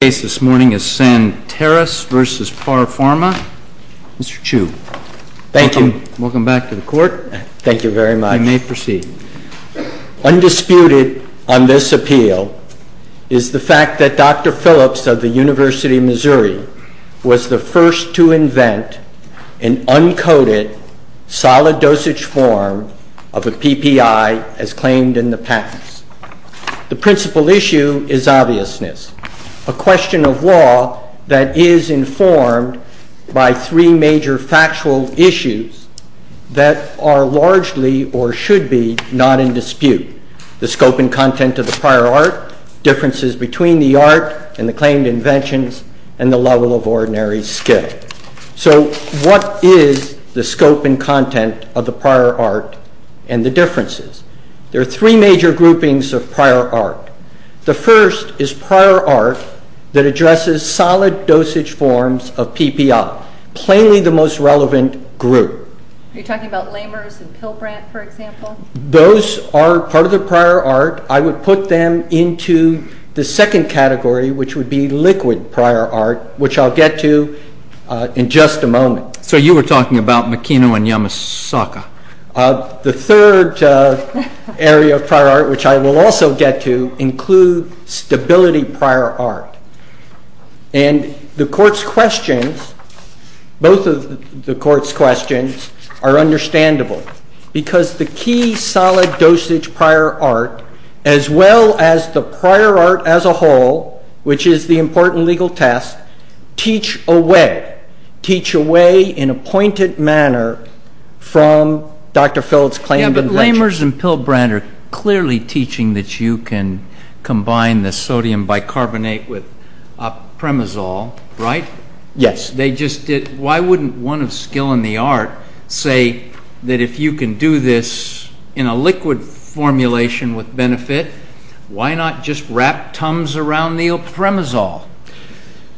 Undisputed on this appeal is the fact that Dr. Phillips of the University of Missouri was the first to invent an uncoated, solid dosage form of a PPI as claimed in the patents. The principal issue is obviousness, a question of law that is informed by three major factual issues that are largely, or should be, not in dispute. The scope and content of the prior art, differences between the art and the claimed inventions, and the level of ordinary skill. So what is the scope and content of the prior art and the differences? There are three major groupings of prior art. The first is prior art that addresses solid dosage forms of PPI, plainly the most relevant group. Are you talking about Lammers and Pilbrant, for example? Those are part of the prior art. I would put them into the second category, which would be liquid prior art, which I'll get to in just a moment. So you were talking about Makino and Yamasaka. The third area of prior art, which I will also get to, includes stability prior art. And the Court's questions, both of the Court's questions, are understandable, because the key solid dosage prior art, as well as the prior art as a whole, which is the important legal test, teach a way, teach a way in a pointed manner from Dr. Phillips' claim of invention. Lammers and Pilbrant are clearly teaching that you can combine the sodium bicarbonate with premazol, right? Yes. They just did. Why wouldn't one of skill in the art say that if you can do this in a liquid formulation with benefit, why not just wrap tums around the premazol?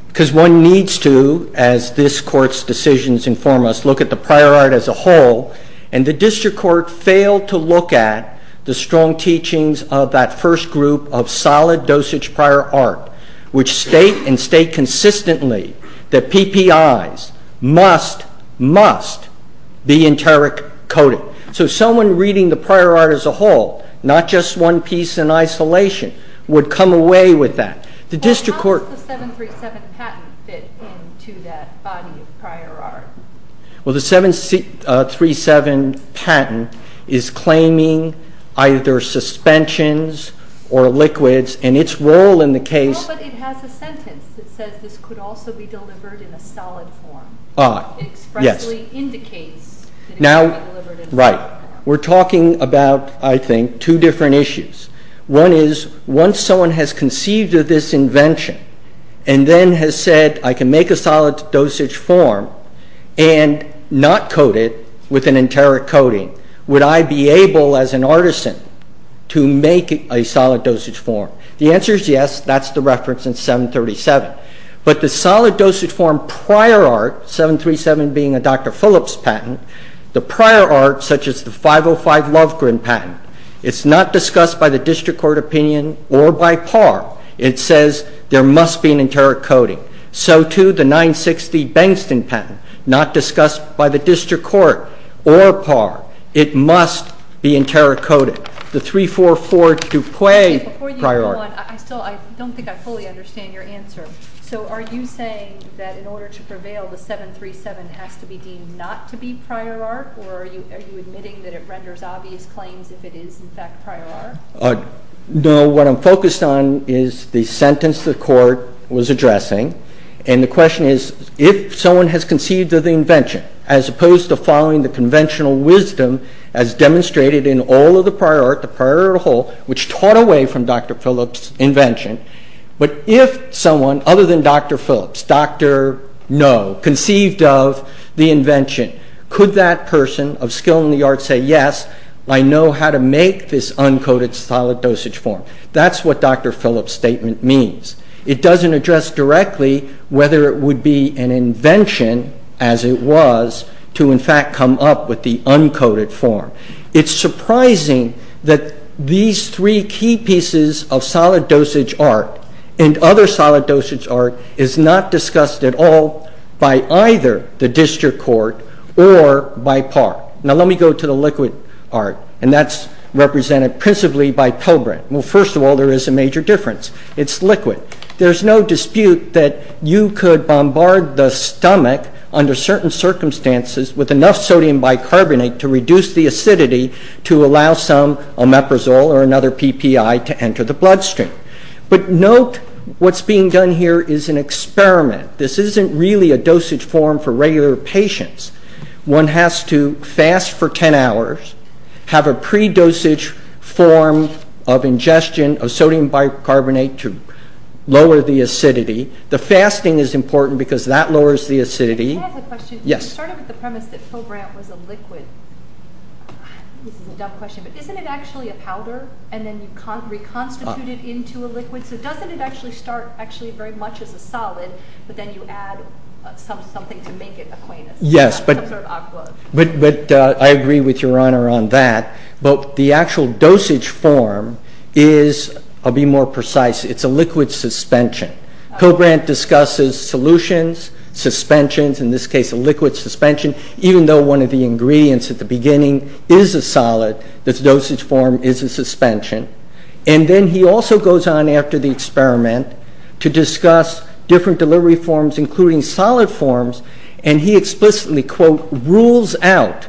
Because one needs to, as this Court's decisions inform us, look at the prior art as a whole, and the District Court failed to look at the strong teachings of that first group of solid dosage prior art, which state and state consistently that PPIs must, must be enteric coated. So someone reading the prior art as a whole, not just one piece in isolation, would come away with that. How does the 737 patent fit into that body of prior art? Well, the 737 patent is claiming either suspensions or liquids, and its role in the case- No, but it has a sentence that says this could also be delivered in a solid form. Ah, yes. It expressly indicates that it could be delivered in a solid form. Right. We're talking about, I think, two different issues. One is, once someone has conceived of this invention and then has said, I can make a solid dosage form and not coat it with an enteric coating, would I be able, as an artisan, to make a solid dosage form? The answer is yes, that's the reference in 737. But the solid dosage form prior art, 737 being a Dr. Phillips patent, the prior art, such as the 505 Lovegren patent, it's not discussed by the district court opinion or by PAR. It says there must be an enteric coating. So, too, the 960 Bengston patent, not discussed by the district court or PAR. It must be enteric coated. The 344 DuPuy prior art- Okay, before you go on, I still don't think I fully understand your answer. So are you saying that in order to prevail, the 737 has to be deemed not to be prior art? Or are you admitting that it renders obvious claims if it is, in fact, prior art? No, what I'm focused on is the sentence the court was addressing. And the question is, if someone has conceived of the invention, as opposed to following the conventional wisdom as demonstrated in all of the prior art, the prior art whole, which taught away from Dr. Phillips' invention, but if someone, other than Dr. Phillips, Dr. No, conceived of the invention, could that person of skill in the art say, yes, I know how to make this uncoated solid dosage form? That's what Dr. Phillips' statement means. It doesn't address directly whether it would be an invention, as it was, to, in fact, come up with the uncoated form. It's surprising that these three key pieces of solid dosage art and other solid dosage art is not discussed at all by either the district court or by PARC. Now let me go to the liquid art, and that's represented principally by Pelbrant. Well, first of all, there is a major difference. It's liquid. There's no dispute that you could bombard the stomach under certain circumstances with enough sodium bicarbonate to reduce the acidity to allow some omeprazole or another PPI to enter the bloodstream. But note what's being done here is an experiment. This isn't really a dosage form for regular patients. One has to fast for 10 hours, have a pre-dosage form of ingestion of sodium bicarbonate to lower the acidity. The fasting is important because that lowers the acidity. Can I ask a question? Yes. You started with the premise that Pelbrant was a liquid. This is a dumb question, but isn't it actually a powder, and then you reconstitute it into a liquid? So doesn't it actually start very much as a solid, but then you add something to make it aqueous? Yes, but I agree with Your Honor on that. But the actual dosage form is, I'll be more precise, it's a liquid suspension. Pelbrant discusses solutions, suspensions, in this case a liquid suspension, even though one of the ingredients at the beginning is a solid, this dosage form is a suspension. And then he also goes on after the experiment to discuss different delivery forms, including solid forms, and he explicitly, quote, rules out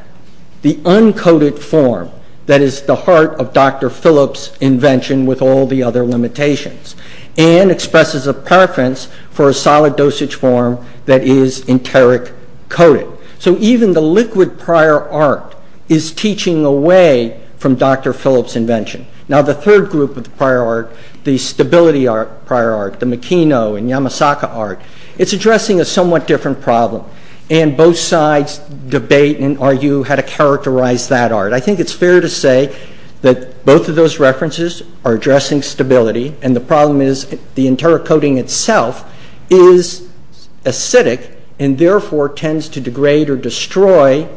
the uncoated form that is the heart of Dr. Phillips' invention with all the other limitations and expresses a preference for a solid dosage form that is enteric coated. So even the liquid prior art is teaching away from Dr. Phillips' invention. Now the third group of the prior art, the stability prior art, the Makino and Yamasaka art, it's addressing a somewhat different problem, and both sides debate and argue how to characterize that art. I think it's fair to say that both of those references are addressing stability and the problem is the enteric coating itself is acidic and therefore tends to degrade or destroy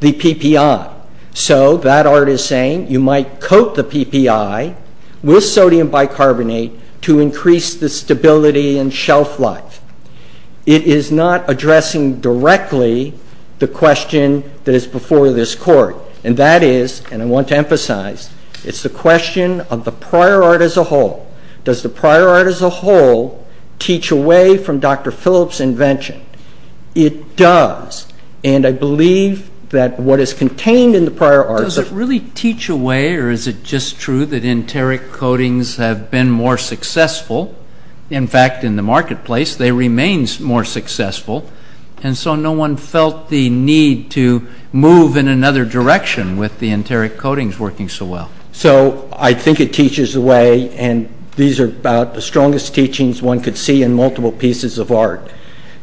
the PPI. So that art is saying you might coat the PPI with sodium bicarbonate to increase the stability and shelf life. It is not addressing directly the question that is before this court, and that is, and I want to emphasize, it's the question of the prior art as a whole. Does the prior art as a whole teach away from Dr. Phillips' invention? It does, and I believe that what is contained in the prior art... Does it really teach away or is it just true that enteric coatings have been more successful? In fact, in the marketplace, they remain more successful, and so no one felt the need to move in another direction with the enteric coatings working so well. So I think it teaches away, and these are about the strongest teachings one could see in multiple pieces of art.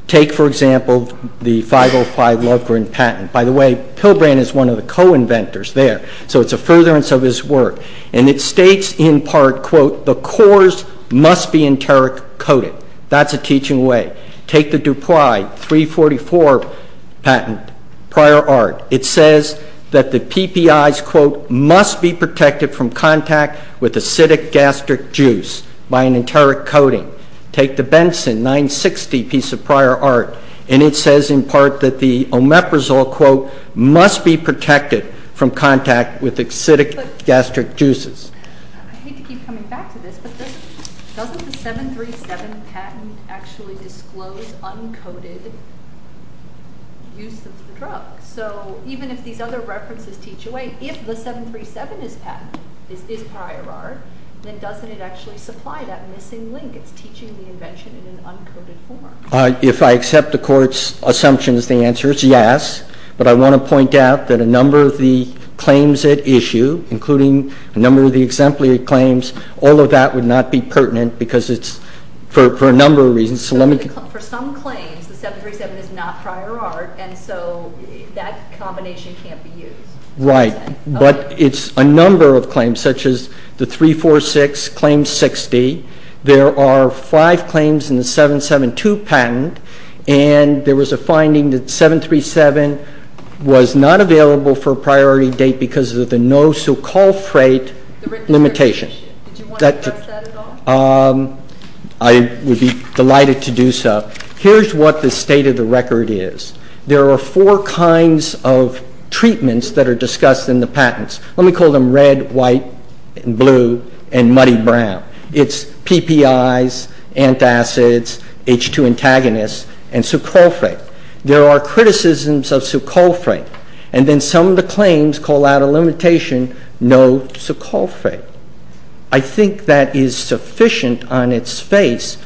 Take, for example, the 505 Lovgren patent. By the way, Pilgrim is one of the co-inventors there, so it's a furtherance of his work, and it states in part, quote, the cores must be enteric coated. That's a teaching way. Take the DuPri 344 patent, prior art. It says that the PPIs, quote, must be protected from contact with acidic gastric juice by an enteric coating. Take the Benson 960 piece of prior art, and it says in part that the omeprazole, quote, must be protected from contact with acidic gastric juices. I hate to keep coming back to this, but doesn't the 737 patent actually disclose uncoded use of the drug? So even if these other references teach away, if the 737 is patent, is prior art, then doesn't it actually supply that missing link? It's teaching the invention in an uncoded form. If I accept the Court's assumptions, the answer is yes, but I want to point out that a number of the claims at issue, including a number of the exemplary claims, all of that would not be pertinent for a number of reasons. For some claims, the 737 is not prior art, and so that combination can't be used. Right, but it's a number of claims, such as the 346 claims 60. There are five claims in the 772 patent, and there was a finding that 737 was not available for a priority date because of the no-succulphrate limitation. Did you want to address that at all? I would be delighted to do so. Here's what the state of the record is. There are four kinds of treatments that are discussed in the patents. Let me call them red, white, blue, and muddy brown. It's PPIs, antacids, H2 antagonists, and succulphrate. There are criticisms of succulphrate, and then some of the claims call out a limitation, no succulphrate. I think that is sufficient on its face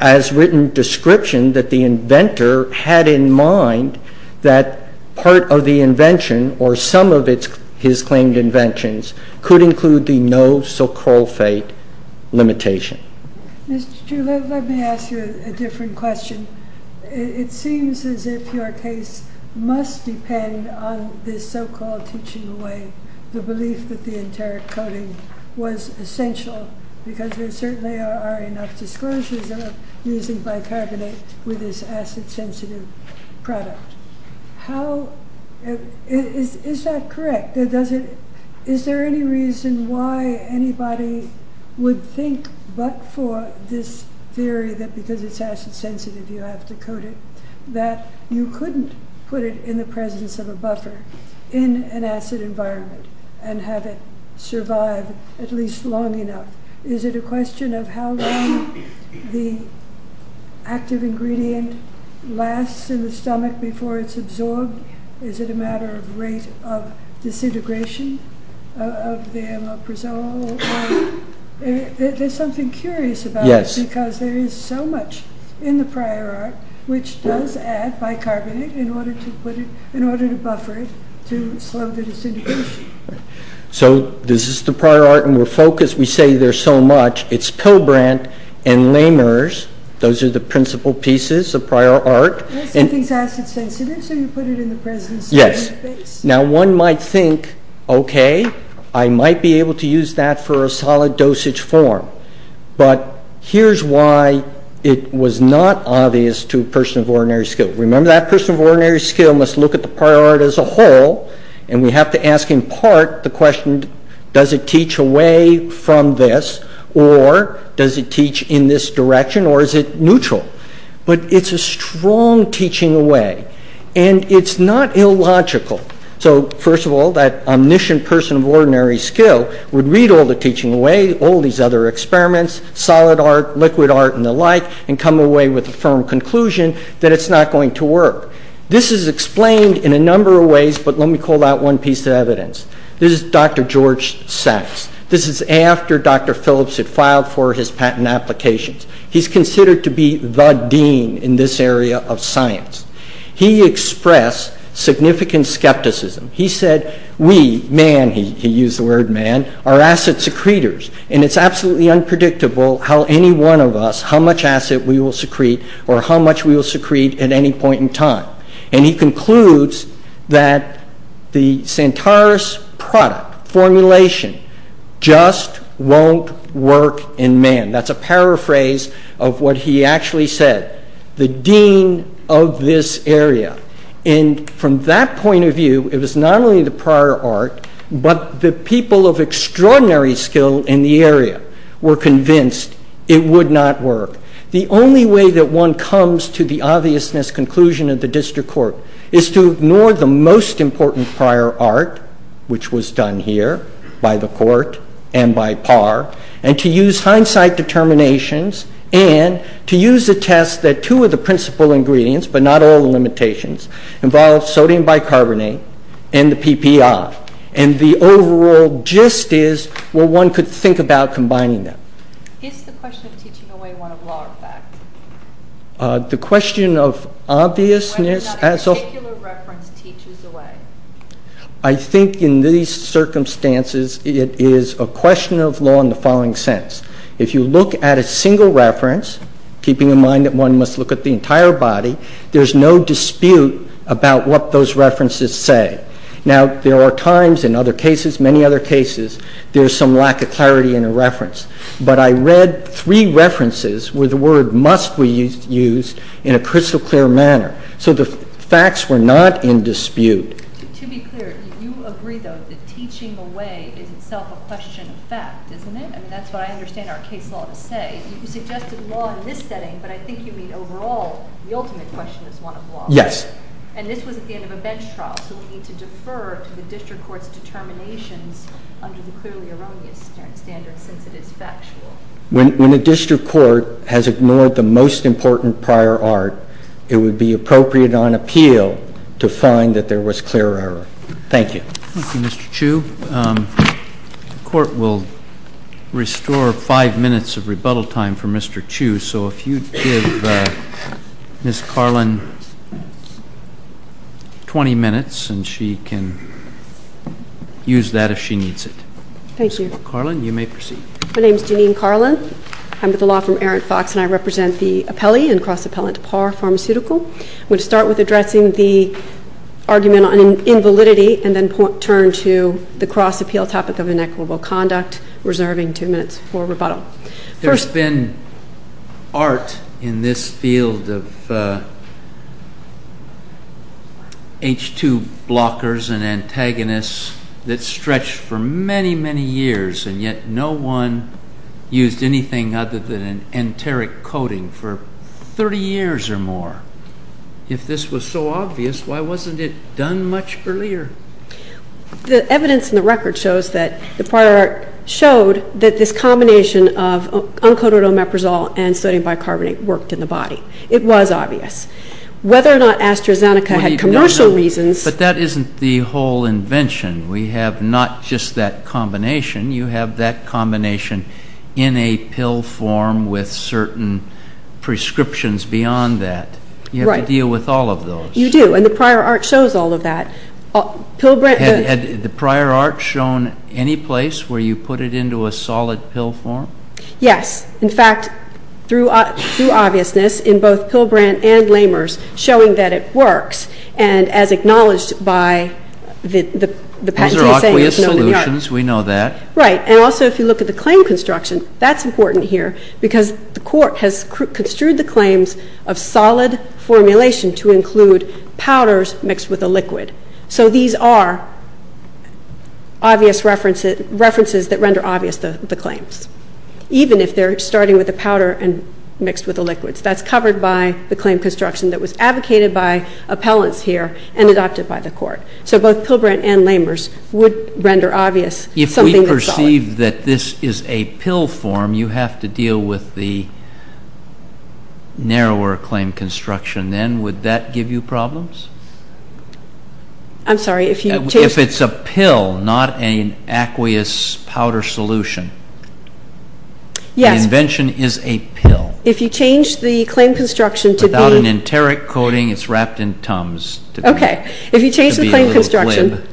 as written description that the inventor had in mind that part of the invention or some of his claimed inventions could include the no-succulphrate limitation. Mr. Chu, let me ask you a different question. It seems as if your case must depend on this so-called teaching away the belief that the enteric coating was essential because there certainly are enough disclosures of using bicarbonate with this acid-sensitive product. Is that correct? Is there any reason why anybody would think but for this theory that because it's acid-sensitive you have to coat it that you couldn't put it in the presence of a buffer in an acid environment and have it survive at least long enough? Is it a question of how long the active ingredient lasts in the stomach before it's absorbed? Is it a matter of rate of disintegration of the amloprazole? There's something curious about it because there is so much in the prior art which does add bicarbonate in order to buffer it to slow the disintegration. So this is the prior art and we're focused. We say there's so much. It's Pilbrandt and Lehmers. Those are the principal pieces of prior art. Some things are acid-sensitive so you put it in the presence. Now one might think, okay, I might be able to use that for a solid dosage form. But here's why it was not obvious to a person of ordinary skill. Remember that person of ordinary skill must look at the prior art as a whole and we have to ask in part the question, does it teach away from this or does it teach in this direction or is it neutral? But it's a strong teaching away. And it's not illogical. So first of all, that omniscient person of ordinary skill would read all the teaching away, all these other experiments, solid art, liquid art, and the like, and come away with a firm conclusion that it's not going to work. This is explained in a number of ways, but let me call out one piece of evidence. This is Dr. George Sachs. This is after Dr. Phillips had filed for his patent applications. He's considered to be the dean in this area of science. He expressed significant skepticism. He said, we, man, he used the word man, are asset secretors, and it's absolutely unpredictable how any one of us, how much asset we will secrete or how much we will secrete at any point in time. And he concludes that the Centaurus product formulation just won't work in man. That's a paraphrase of what he actually said. He said, the dean of this area. And from that point of view, it was not only the prior art, but the people of extraordinary skill in the area were convinced it would not work. The only way that one comes to the obviousness conclusion of the district court is to ignore the most important prior art, which was done here by the court and by Parr, and to use hindsight determinations and to use a test that two of the principal ingredients, but not all the limitations, involve sodium bicarbonate and the PPI. And the overall gist is what one could think about combining them. Is the question of teaching away one of law or fact? The question of obviousness as of… Whether or not a particular reference teaches away. I think in these circumstances, it is a question of law in the following sense. If you look at a single reference, keeping in mind that one must look at the entire body, there's no dispute about what those references say. Now, there are times in other cases, many other cases, there's some lack of clarity in a reference. But I read three references where the word must be used in a crystal clear manner. So the facts were not in dispute. To be clear, you agree, though, that teaching away is itself a question of fact, isn't it? I mean, that's what I understand our case law to say. You suggested law in this setting, but I think you mean overall the ultimate question is one of law. Yes. And this was at the end of a bench trial, so we need to defer to the district court's determinations under the clearly erroneous standard since it is factual. When a district court has ignored the most important prior art, it would be appropriate on appeal to find that there was clear error. Thank you. Thank you, Mr. Chu. The court will restore five minutes of rebuttal time for Mr. Chu, so if you give Ms. Carlin 20 minutes and she can use that if she needs it. Thank you. Ms. Carlin, you may proceed. My name is Jeanine Carlin. I'm with the law firm Aaron Fox, and I represent the appellee and cross-appellant to Parr Pharmaceutical. I'm going to start with addressing the argument on invalidity and then turn to the cross-appeal topic of inequitable conduct, reserving two minutes for rebuttal. There's been art in this field of H2 blockers and antagonists that's stretched for many, many years, and yet no one used anything other than an enteric coating for 30 years or more. If this was so obvious, why wasn't it done much earlier? The evidence in the record shows that this combination of uncoated omeprazole and sodium bicarbonate worked in the body. It was obvious. Whether or not AstraZeneca had commercial reasons But that isn't the whole invention. We have not just that combination. You have that combination in a pill form with certain prescriptions beyond that. Right. You have to deal with all of those. You do, and the prior art shows all of that. Had the prior art shown any place where you put it into a solid pill form? Yes. In fact, through obviousness, in both Pilbrandt and Lamers, showing that it works and as acknowledged by the patenting saying it's known in the art. Those are aqueous solutions. We know that. Right. And also if you look at the claim construction, that's important here because the court has construed the claims of solid formulation to include powders mixed with a liquid. So these are obvious references that render obvious the claims, even if they're starting with the powder and mixed with the liquids. That's covered by the claim construction that was advocated by appellants here and adopted by the court. So both Pilbrandt and Lamers would render obvious something that's solid. If we perceive that this is a pill form, you have to deal with the narrower claim construction then. Would that give you problems? I'm sorry. If it's a pill, not an aqueous powder solution. Yes. The invention is a pill. If you change the claim construction to be... Without an enteric coding, it's wrapped in tums. Okay. If you change the claim construction... To be a little flim.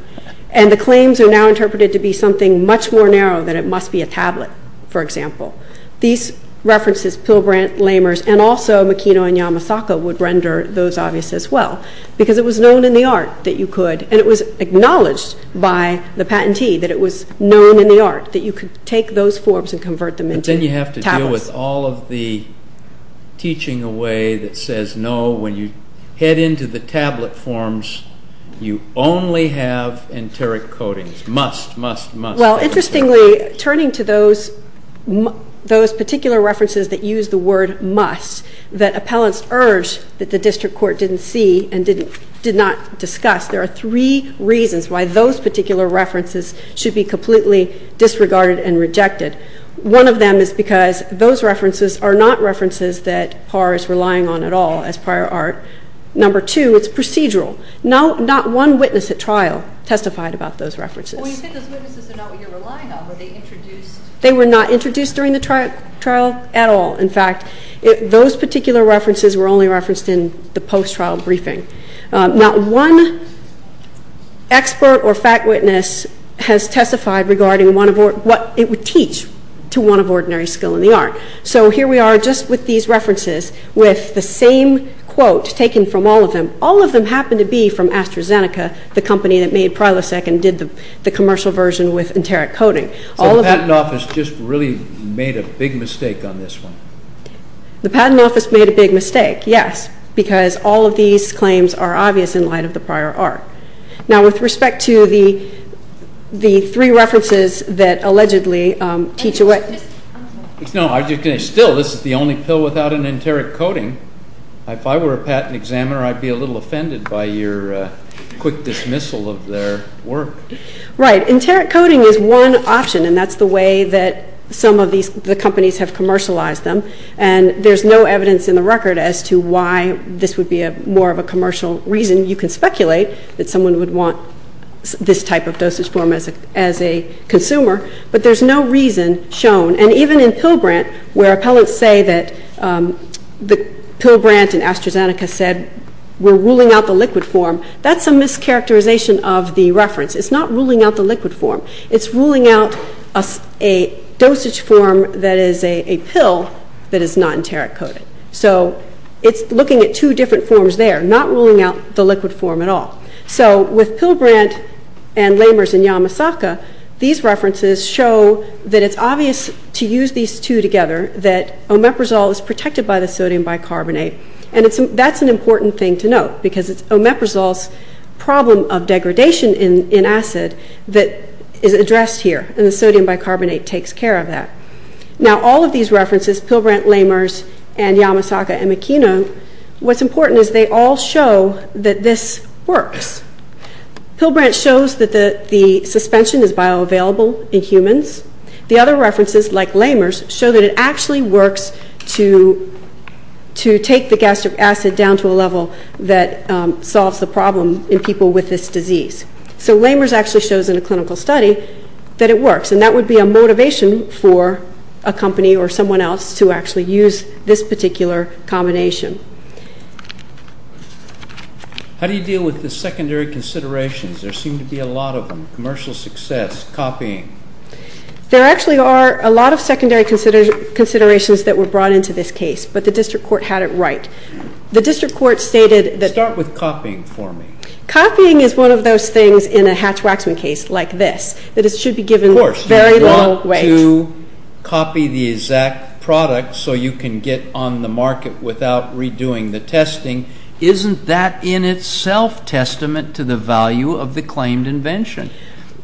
And the claims are now interpreted to be something much more narrow than it must be a tablet, for example. These references, Pilbrandt, Lamers, and also Makino and Yamasaka would render those obvious as well because it was known in the art that you could. And it was acknowledged by the patentee that it was known in the art that you could take those forms and convert them into tablets. But then you have to deal with all of the teaching away that says no. When you head into the tablet forms, you only have enteric codings. Must, must, must. Well, interestingly, turning to those particular references that use the word must, that appellants urge that the district court didn't see and did not discuss, there are three reasons why those particular references should be completely disregarded and rejected. One of them is because those references are not references that PAR is relying on at all as prior art. Number two, it's procedural. Not one witness at trial testified about those references. Well, you said those witnesses are not what you're relying on. Were they introduced? They were not introduced during the trial at all. In fact, those particular references were only referenced in the post-trial briefing. Not one expert or fact witness has testified regarding what it would teach to one of ordinary skill in the art. So here we are just with these references with the same quote taken from all of them. All of them happen to be from AstraZeneca, the company that made Prilosec and did the commercial version with enteric coding. So the patent office just really made a big mistake on this one? The patent office made a big mistake, yes. Because all of these claims are obvious in light of the prior art. Now, with respect to the three references that allegedly teach a way. Still, this is the only pill without an enteric coding. If I were a patent examiner, I'd be a little offended by your quick dismissal of their work. Right. Enteric coding is one option, and that's the way that some of the companies have commercialized them. And there's no evidence in the record as to why this would be more of a commercial reason. You can speculate that someone would want this type of dosage form as a consumer. But there's no reason shown. And even in Pilbrandt, where appellants say that Pilbrandt and AstraZeneca said, we're ruling out the liquid form, that's a mischaracterization of the reference. It's not ruling out the liquid form. It's ruling out a dosage form that is a pill that is not enteric coded. So it's looking at two different forms there, not ruling out the liquid form at all. So with Pilbrandt and Lamers and Yamasaka, these references show that it's obvious to use these two together, that omeprazole is protected by the sodium bicarbonate. And that's an important thing to note, because it's omeprazole's problem of degradation in acid that is addressed here, and the sodium bicarbonate takes care of that. Now all of these references, Pilbrandt, Lamers, and Yamasaka, and Makino, what's important is they all show that this works. Pilbrandt shows that the suspension is bioavailable in humans. The other references, like Lamers, show that it actually works to take the gastric acid down to a level that solves the problem in people with this disease. So Lamers actually shows in a clinical study that it works, and that would be a motivation for a company or someone else to actually use this particular combination. How do you deal with the secondary considerations? There seem to be a lot of them, commercial success, copying. There actually are a lot of secondary considerations that were brought into this case, but the district court had it right. The district court stated that... Start with copying for me. Copying is one of those things in a hatch-waxman case like this, that it should be given very little weight. Of course, you want to copy the exact product so you can get on the market without redoing the testing. Isn't that in itself testament to the value of the claimed invention,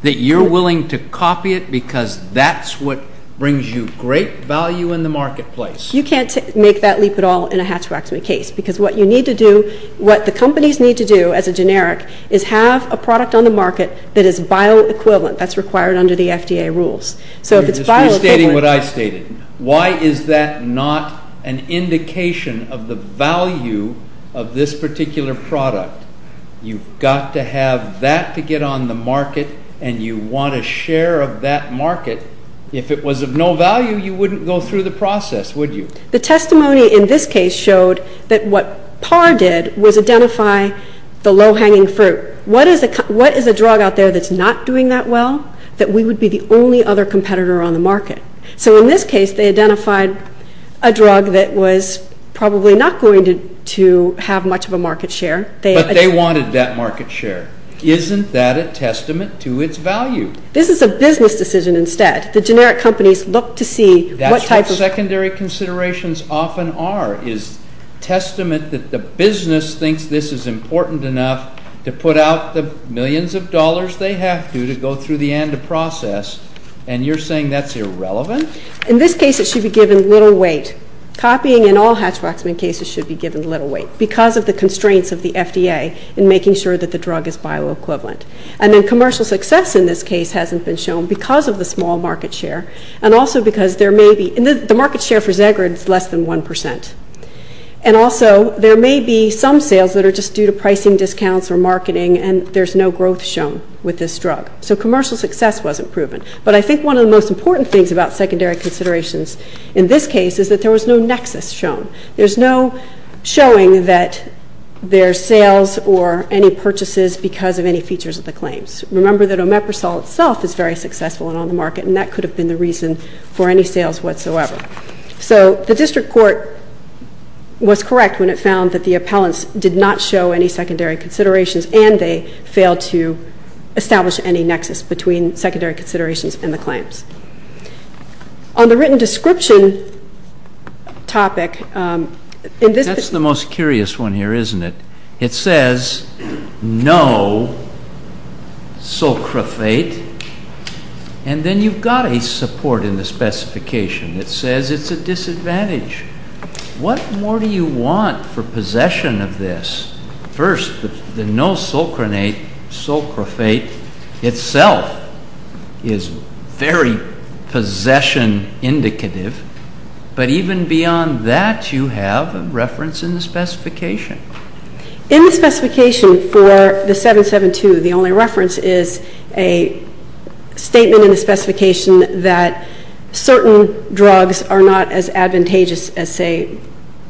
that you're willing to copy it because that's what brings you great value in the marketplace? You can't make that leap at all in a hatch-waxman case, because what you need to do, what the companies need to do as a generic, is have a product on the market that is bioequivalent. That's required under the FDA rules. So if it's bioequivalent... You're restating what I stated. Why is that not an indication of the value of this particular product? You've got to have that to get on the market, and you want a share of that market. If it was of no value, you wouldn't go through the process, would you? The testimony in this case showed that what PAR did was identify the low-hanging fruit. What is a drug out there that's not doing that well that we would be the only other competitor on the market? So in this case, they identified a drug that was probably not going to have much of a market share. But they wanted that market share. Isn't that a testament to its value? This is a business decision instead. The generic companies look to see what type of... is testament that the business thinks this is important enough to put out the millions of dollars they have to to go through the end of process, and you're saying that's irrelevant? In this case, it should be given little weight. Copying in all Hatch-Waxman cases should be given little weight because of the constraints of the FDA in making sure that the drug is bioequivalent. And then commercial success in this case hasn't been shown because of the small market share and also because there may be... the market share for Zagreb is less than 1%. And also, there may be some sales that are just due to pricing discounts or marketing, and there's no growth shown with this drug. So commercial success wasn't proven. But I think one of the most important things about secondary considerations in this case is that there was no nexus shown. There's no showing that there's sales or any purchases because of any features of the claims. Remember that Omeprazole itself is very successful and on the market, and that could have been the reason for any sales whatsoever. So the district court was correct when it found that the appellants did not show any secondary considerations and they failed to establish any nexus between secondary considerations and the claims. On the written description topic, in this... That's the most curious one here, isn't it? It says no sulcrophate, and then you've got a support in the specification that says it's a disadvantage. What more do you want for possession of this? First, the no sulcronate, sulcrophate itself is very possession indicative, but even beyond that, you have a reference in the specification. In the specification for the 772, the only reference is a statement in the specification that certain drugs are not as advantageous as, say,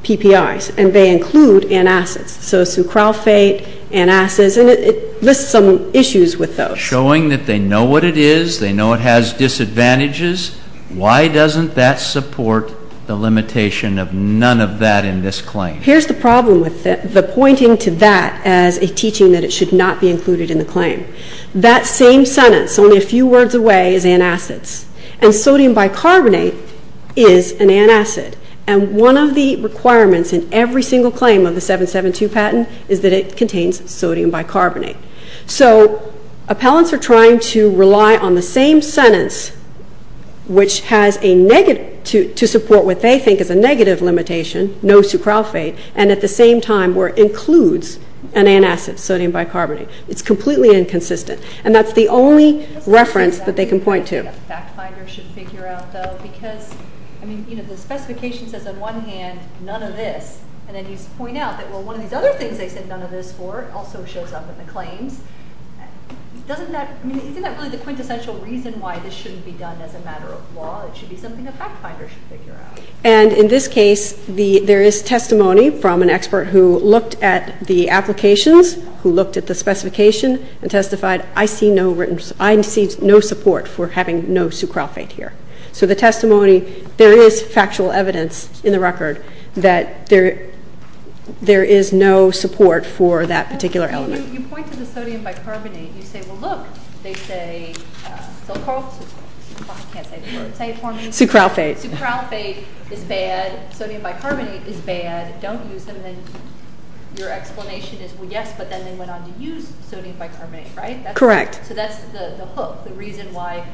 PPIs, and they include antacids. So sulcrophate, antacids, and it lists some issues with those. By showing that they know what it is, they know it has disadvantages, why doesn't that support the limitation of none of that in this claim? Here's the problem with the pointing to that as a teaching that it should not be included in the claim. That same sentence, only a few words away, is antacids, and sodium bicarbonate is an antacid, and one of the requirements in every single claim of the 772 patent is that it contains sodium bicarbonate. So appellants are trying to rely on the same sentence, which has a negative, to support what they think is a negative limitation, no sulcrophate, and at the same time where it includes an antacid, sodium bicarbonate. It's completely inconsistent, and that's the only reference that they can point to. A fact finder should figure out, though, because, I mean, you know, the specification says on one hand, none of this, and then you point out that, well, one of these other things they said none of this for also shows up in the claims. Doesn't that, I mean, isn't that really the quintessential reason why this shouldn't be done as a matter of law? It should be something a fact finder should figure out. And in this case, there is testimony from an expert who looked at the applications, who looked at the specification, and testified, I see no written, I see no support for having no sulcrophate here. So the testimony, there is factual evidence in the record that there is no support for that particular element. You point to the sodium bicarbonate, you say, well, look, they say sulcrophate is bad, sodium bicarbonate is bad, don't use them, and your explanation is, well, yes, but then they went on to use sodium bicarbonate, right? Correct. So that's the hook, the reason why,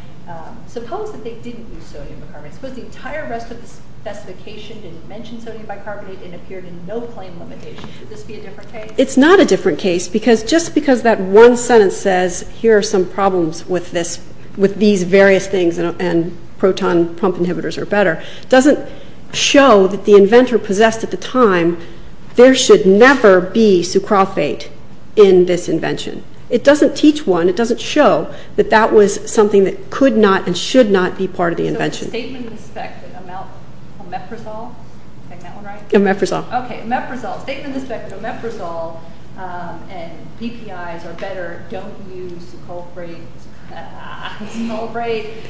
suppose that they didn't use sodium bicarbonate, suppose the entire rest of the specification didn't mention sodium bicarbonate and appeared in no claim limitation, would this be a different case? It's not a different case, because just because that one sentence says, here are some problems with these various things and proton pump inhibitors are better, doesn't show that the inventor possessed at the time, there should never be sulcrophate in this invention. It doesn't teach one, it doesn't show that that was something that could not and should not be part of the invention. So the statement in the spec that omeprazole, am I getting that one right? Omeprazole. Okay, omeprazole, statement in the spec that omeprazole and BPI's are better, don't use sulcrophate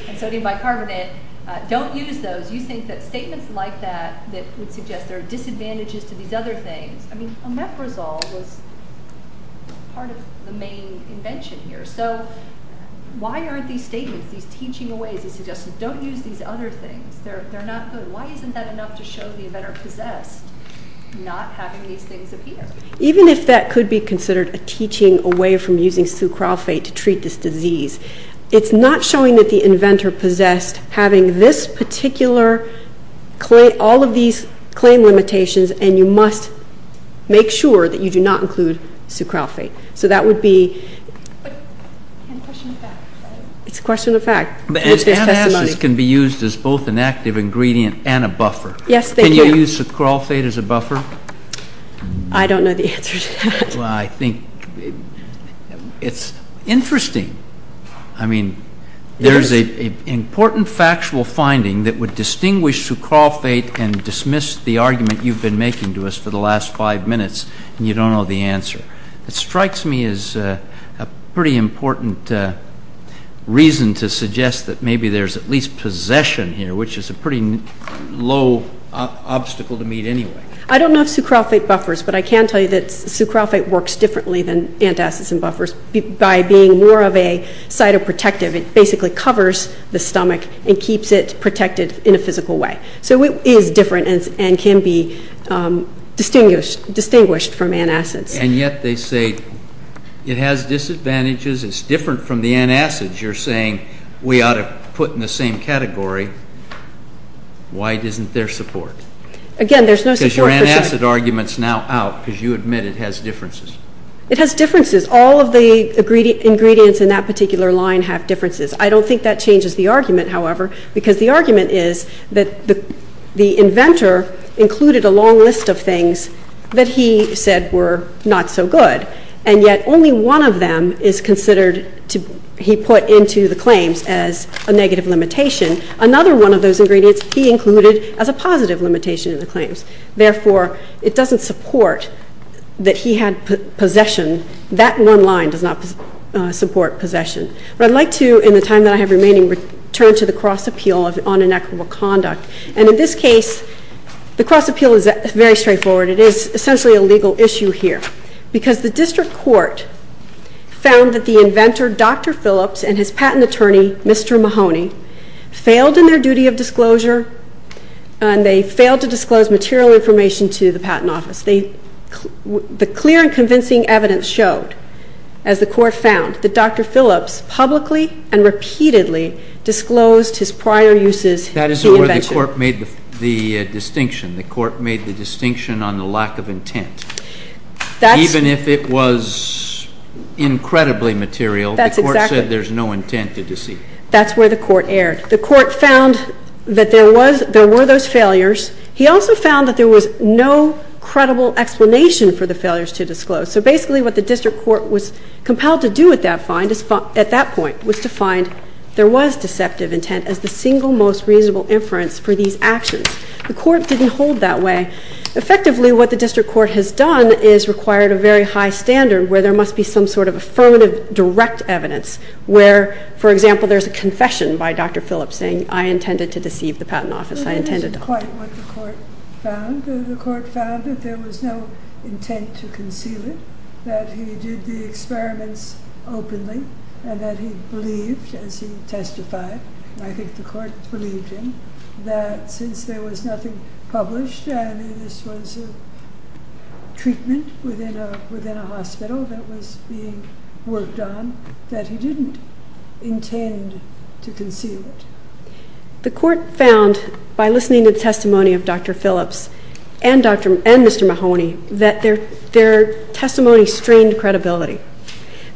and sodium bicarbonate, don't use those, you think that statements like that that would suggest there are disadvantages to these other things, I mean omeprazole was part of the main invention here, so why aren't these statements, these teaching aways, these suggestions, don't use these other things, they're not good, why isn't that enough to show the inventor possessed not having these things appear? Even if that could be considered a teaching away from using sulcrophate to treat this disease, it's not showing that the inventor possessed having this particular claim, you meet all of these claim limitations and you must make sure that you do not include sulcrophate. So that would be, it's a question of fact. But antacids can be used as both an active ingredient and a buffer. Yes, they can. Can you use sulcrophate as a buffer? I don't know the answer to that. Well, I think it's interesting. I mean, there's an important factual finding that would distinguish sulcrophate and dismiss the argument you've been making to us for the last five minutes, and you don't know the answer. It strikes me as a pretty important reason to suggest that maybe there's at least possession here, which is a pretty low obstacle to meet anyway. I don't know if sulcrophate buffers, but I can tell you that sulcrophate works differently than antacids and buffers by being more of a cytoprotective. It basically covers the stomach and keeps it protected in a physical way. So it is different and can be distinguished from antacids. And yet they say it has disadvantages. It's different from the antacids. You're saying we ought to put in the same category. Why isn't there support? Again, there's no support. Because your antacid argument is now out because you admit it has differences. It has differences. All of the ingredients in that particular line have differences. I don't think that changes the argument, however, because the argument is that the inventor included a long list of things that he said were not so good, and yet only one of them is considered he put into the claims as a negative limitation. Another one of those ingredients he included as a positive limitation in the claims. Therefore, it doesn't support that he had possession. That one line does not support possession. But I'd like to, in the time that I have remaining, return to the cross appeal on inequitable conduct. And in this case, the cross appeal is very straightforward. It is essentially a legal issue here, because the district court found that the inventor, Dr. Phillips, and his patent attorney, Mr. Mahoney, failed in their duty of disclosure, and they failed to disclose material information to the patent office. The clear and convincing evidence showed, as the court found, that Dr. Phillips publicly and repeatedly disclosed his prior uses to the inventor. That is where the court made the distinction. The court made the distinction on the lack of intent. Even if it was incredibly material, the court said there's no intent to deceive. That's where the court erred. The court found that there were those failures. He also found that there was no credible explanation for the failures to disclose. So basically, what the district court was compelled to do at that point was to find there was deceptive intent as the single most reasonable inference for these actions. The court didn't hold that way. Effectively, what the district court has done is required a very high standard where there must be some sort of affirmative direct evidence, where, for example, there's a confession by Dr. Phillips saying, I intended to deceive the patent office. I intended not to. That isn't quite what the court found. The court found that there was no intent to conceal it, that he did the experiments openly, and that he believed, as he testified, and I think the court believed him, that since there was nothing published, that this was a treatment within a hospital that was being worked on, that he didn't intend to conceal it. The court found, by listening to the testimony of Dr. Phillips and Mr. Mahoney, that their testimony strained credibility,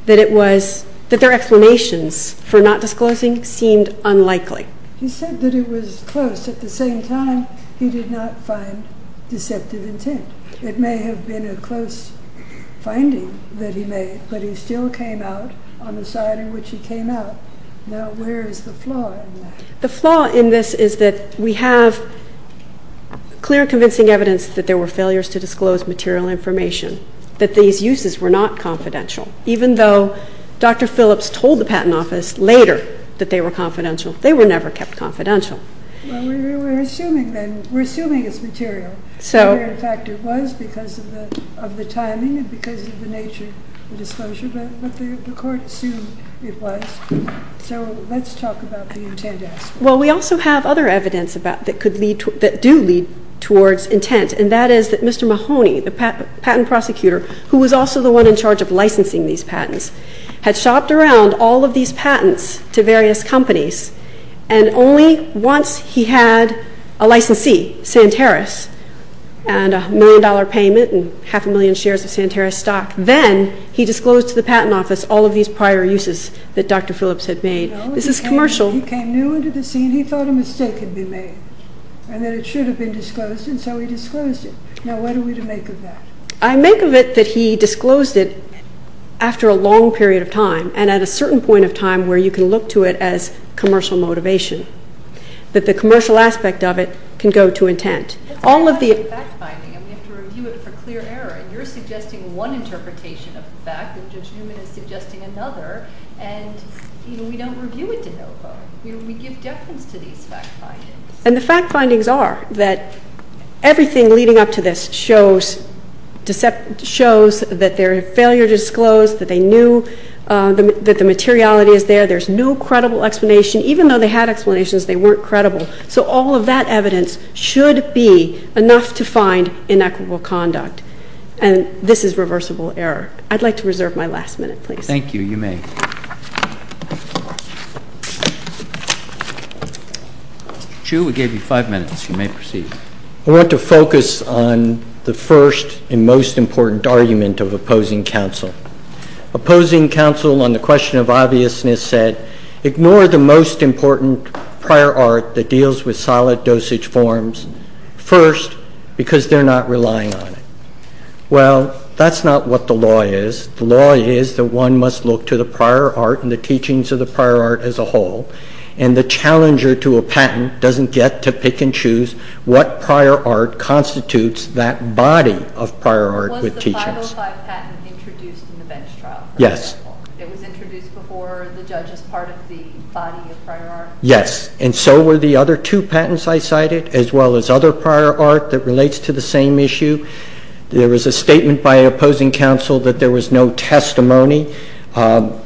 that their explanations for not disclosing seemed unlikely. He said that it was close. At the same time, he did not find deceptive intent. It may have been a close finding that he made, but he still came out on the side in which he came out. Now, where is the flaw in that? The flaw in this is that we have clear, convincing evidence that there were failures to disclose material information, that these uses were not confidential, even though Dr. Phillips told the patent office later that they were confidential. They were never kept confidential. Well, we're assuming then, we're assuming it's material. In fact, it was because of the timing and because of the nature of the disclosure, but the court assumed it was. So let's talk about the intent aspect. Well, we also have other evidence that do lead towards intent, and that is that Mr. Mahoney, the patent prosecutor, who was also the one in charge of licensing these patents, had shopped around all of these patents to various companies, and only once he had a licensee, Santeros, and a million-dollar payment and half a million shares of Santeros stock, then he disclosed to the patent office all of these prior uses that Dr. Phillips had made. This is commercial. He came new into the scene. He thought a mistake had been made and that it should have been disclosed, and so he disclosed it. Now, what are we to make of that? I make of it that he disclosed it after a long period of time and at a certain point of time where you can look to it as commercial motivation, that the commercial aspect of it can go to intent. All of the fact finding, and we have to review it for clear error, and you're suggesting one interpretation of the fact, and Judge Newman is suggesting another, and, you know, we don't review it to no vote. We give deference to these fact findings. And the fact findings are that everything leading up to this shows that they're a failure to disclose, that they knew that the materiality is there. There's no credible explanation. Even though they had explanations, they weren't credible. So all of that evidence should be enough to find inequitable conduct, and this is reversible error. I'd like to reserve my last minute, please. Thank you. Thank you. You may. Mr. Chu, we gave you five minutes. You may proceed. I want to focus on the first and most important argument of opposing counsel. Opposing counsel on the question of obviousness said, ignore the most important prior art that deals with solid dosage forms, first, because they're not relying on it. Well, that's not what the law is. The law is that one must look to the prior art and the teachings of the prior art as a whole, and the challenger to a patent doesn't get to pick and choose what prior art constitutes that body of prior art with teachings. Was the 505 patent introduced in the bench trial, for example? Yes. It was introduced before the judge as part of the body of prior art? Yes, and so were the other two patents I cited, as well as other prior art that relates to the same issue. There was a statement by opposing counsel that there was no testimony. I'm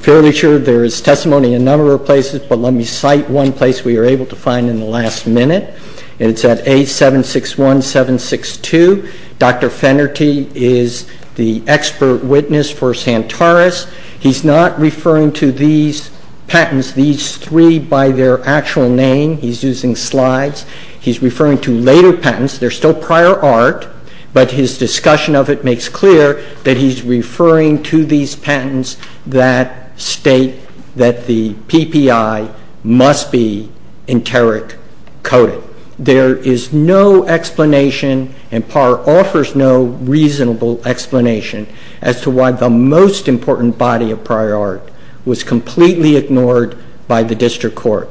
fairly sure there is testimony in a number of places, but let me cite one place we were able to find in the last minute. It's at A761762. Dr. Fennerty is the expert witness for Santaris. He's not referring to these patents, these three by their actual name. He's using slides. He's referring to later patents. They're still prior art, but his discussion of it makes clear that he's referring to these patents that state that the PPI must be enteric coded. There is no explanation, and Parr offers no reasonable explanation, as to why the most important body of prior art was completely ignored by the district court.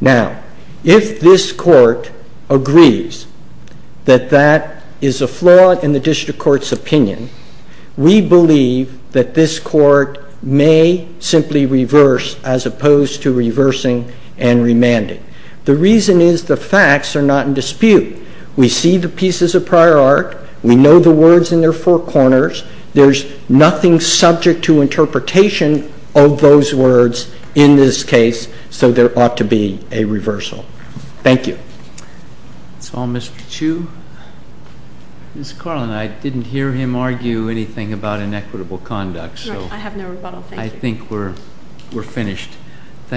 Now, if this court agrees that that is a flaw in the district court's opinion, we believe that this court may simply reverse as opposed to reversing and remanding. The reason is the facts are not in dispute. We see the pieces of prior art. We know the words in their four corners. There's nothing subject to interpretation of those words in this case, so there ought to be a reversal. Thank you. That's all, Mr. Chu. Ms. Carlin, I didn't hear him argue anything about inequitable conduct, so I think we're finished. Thank you.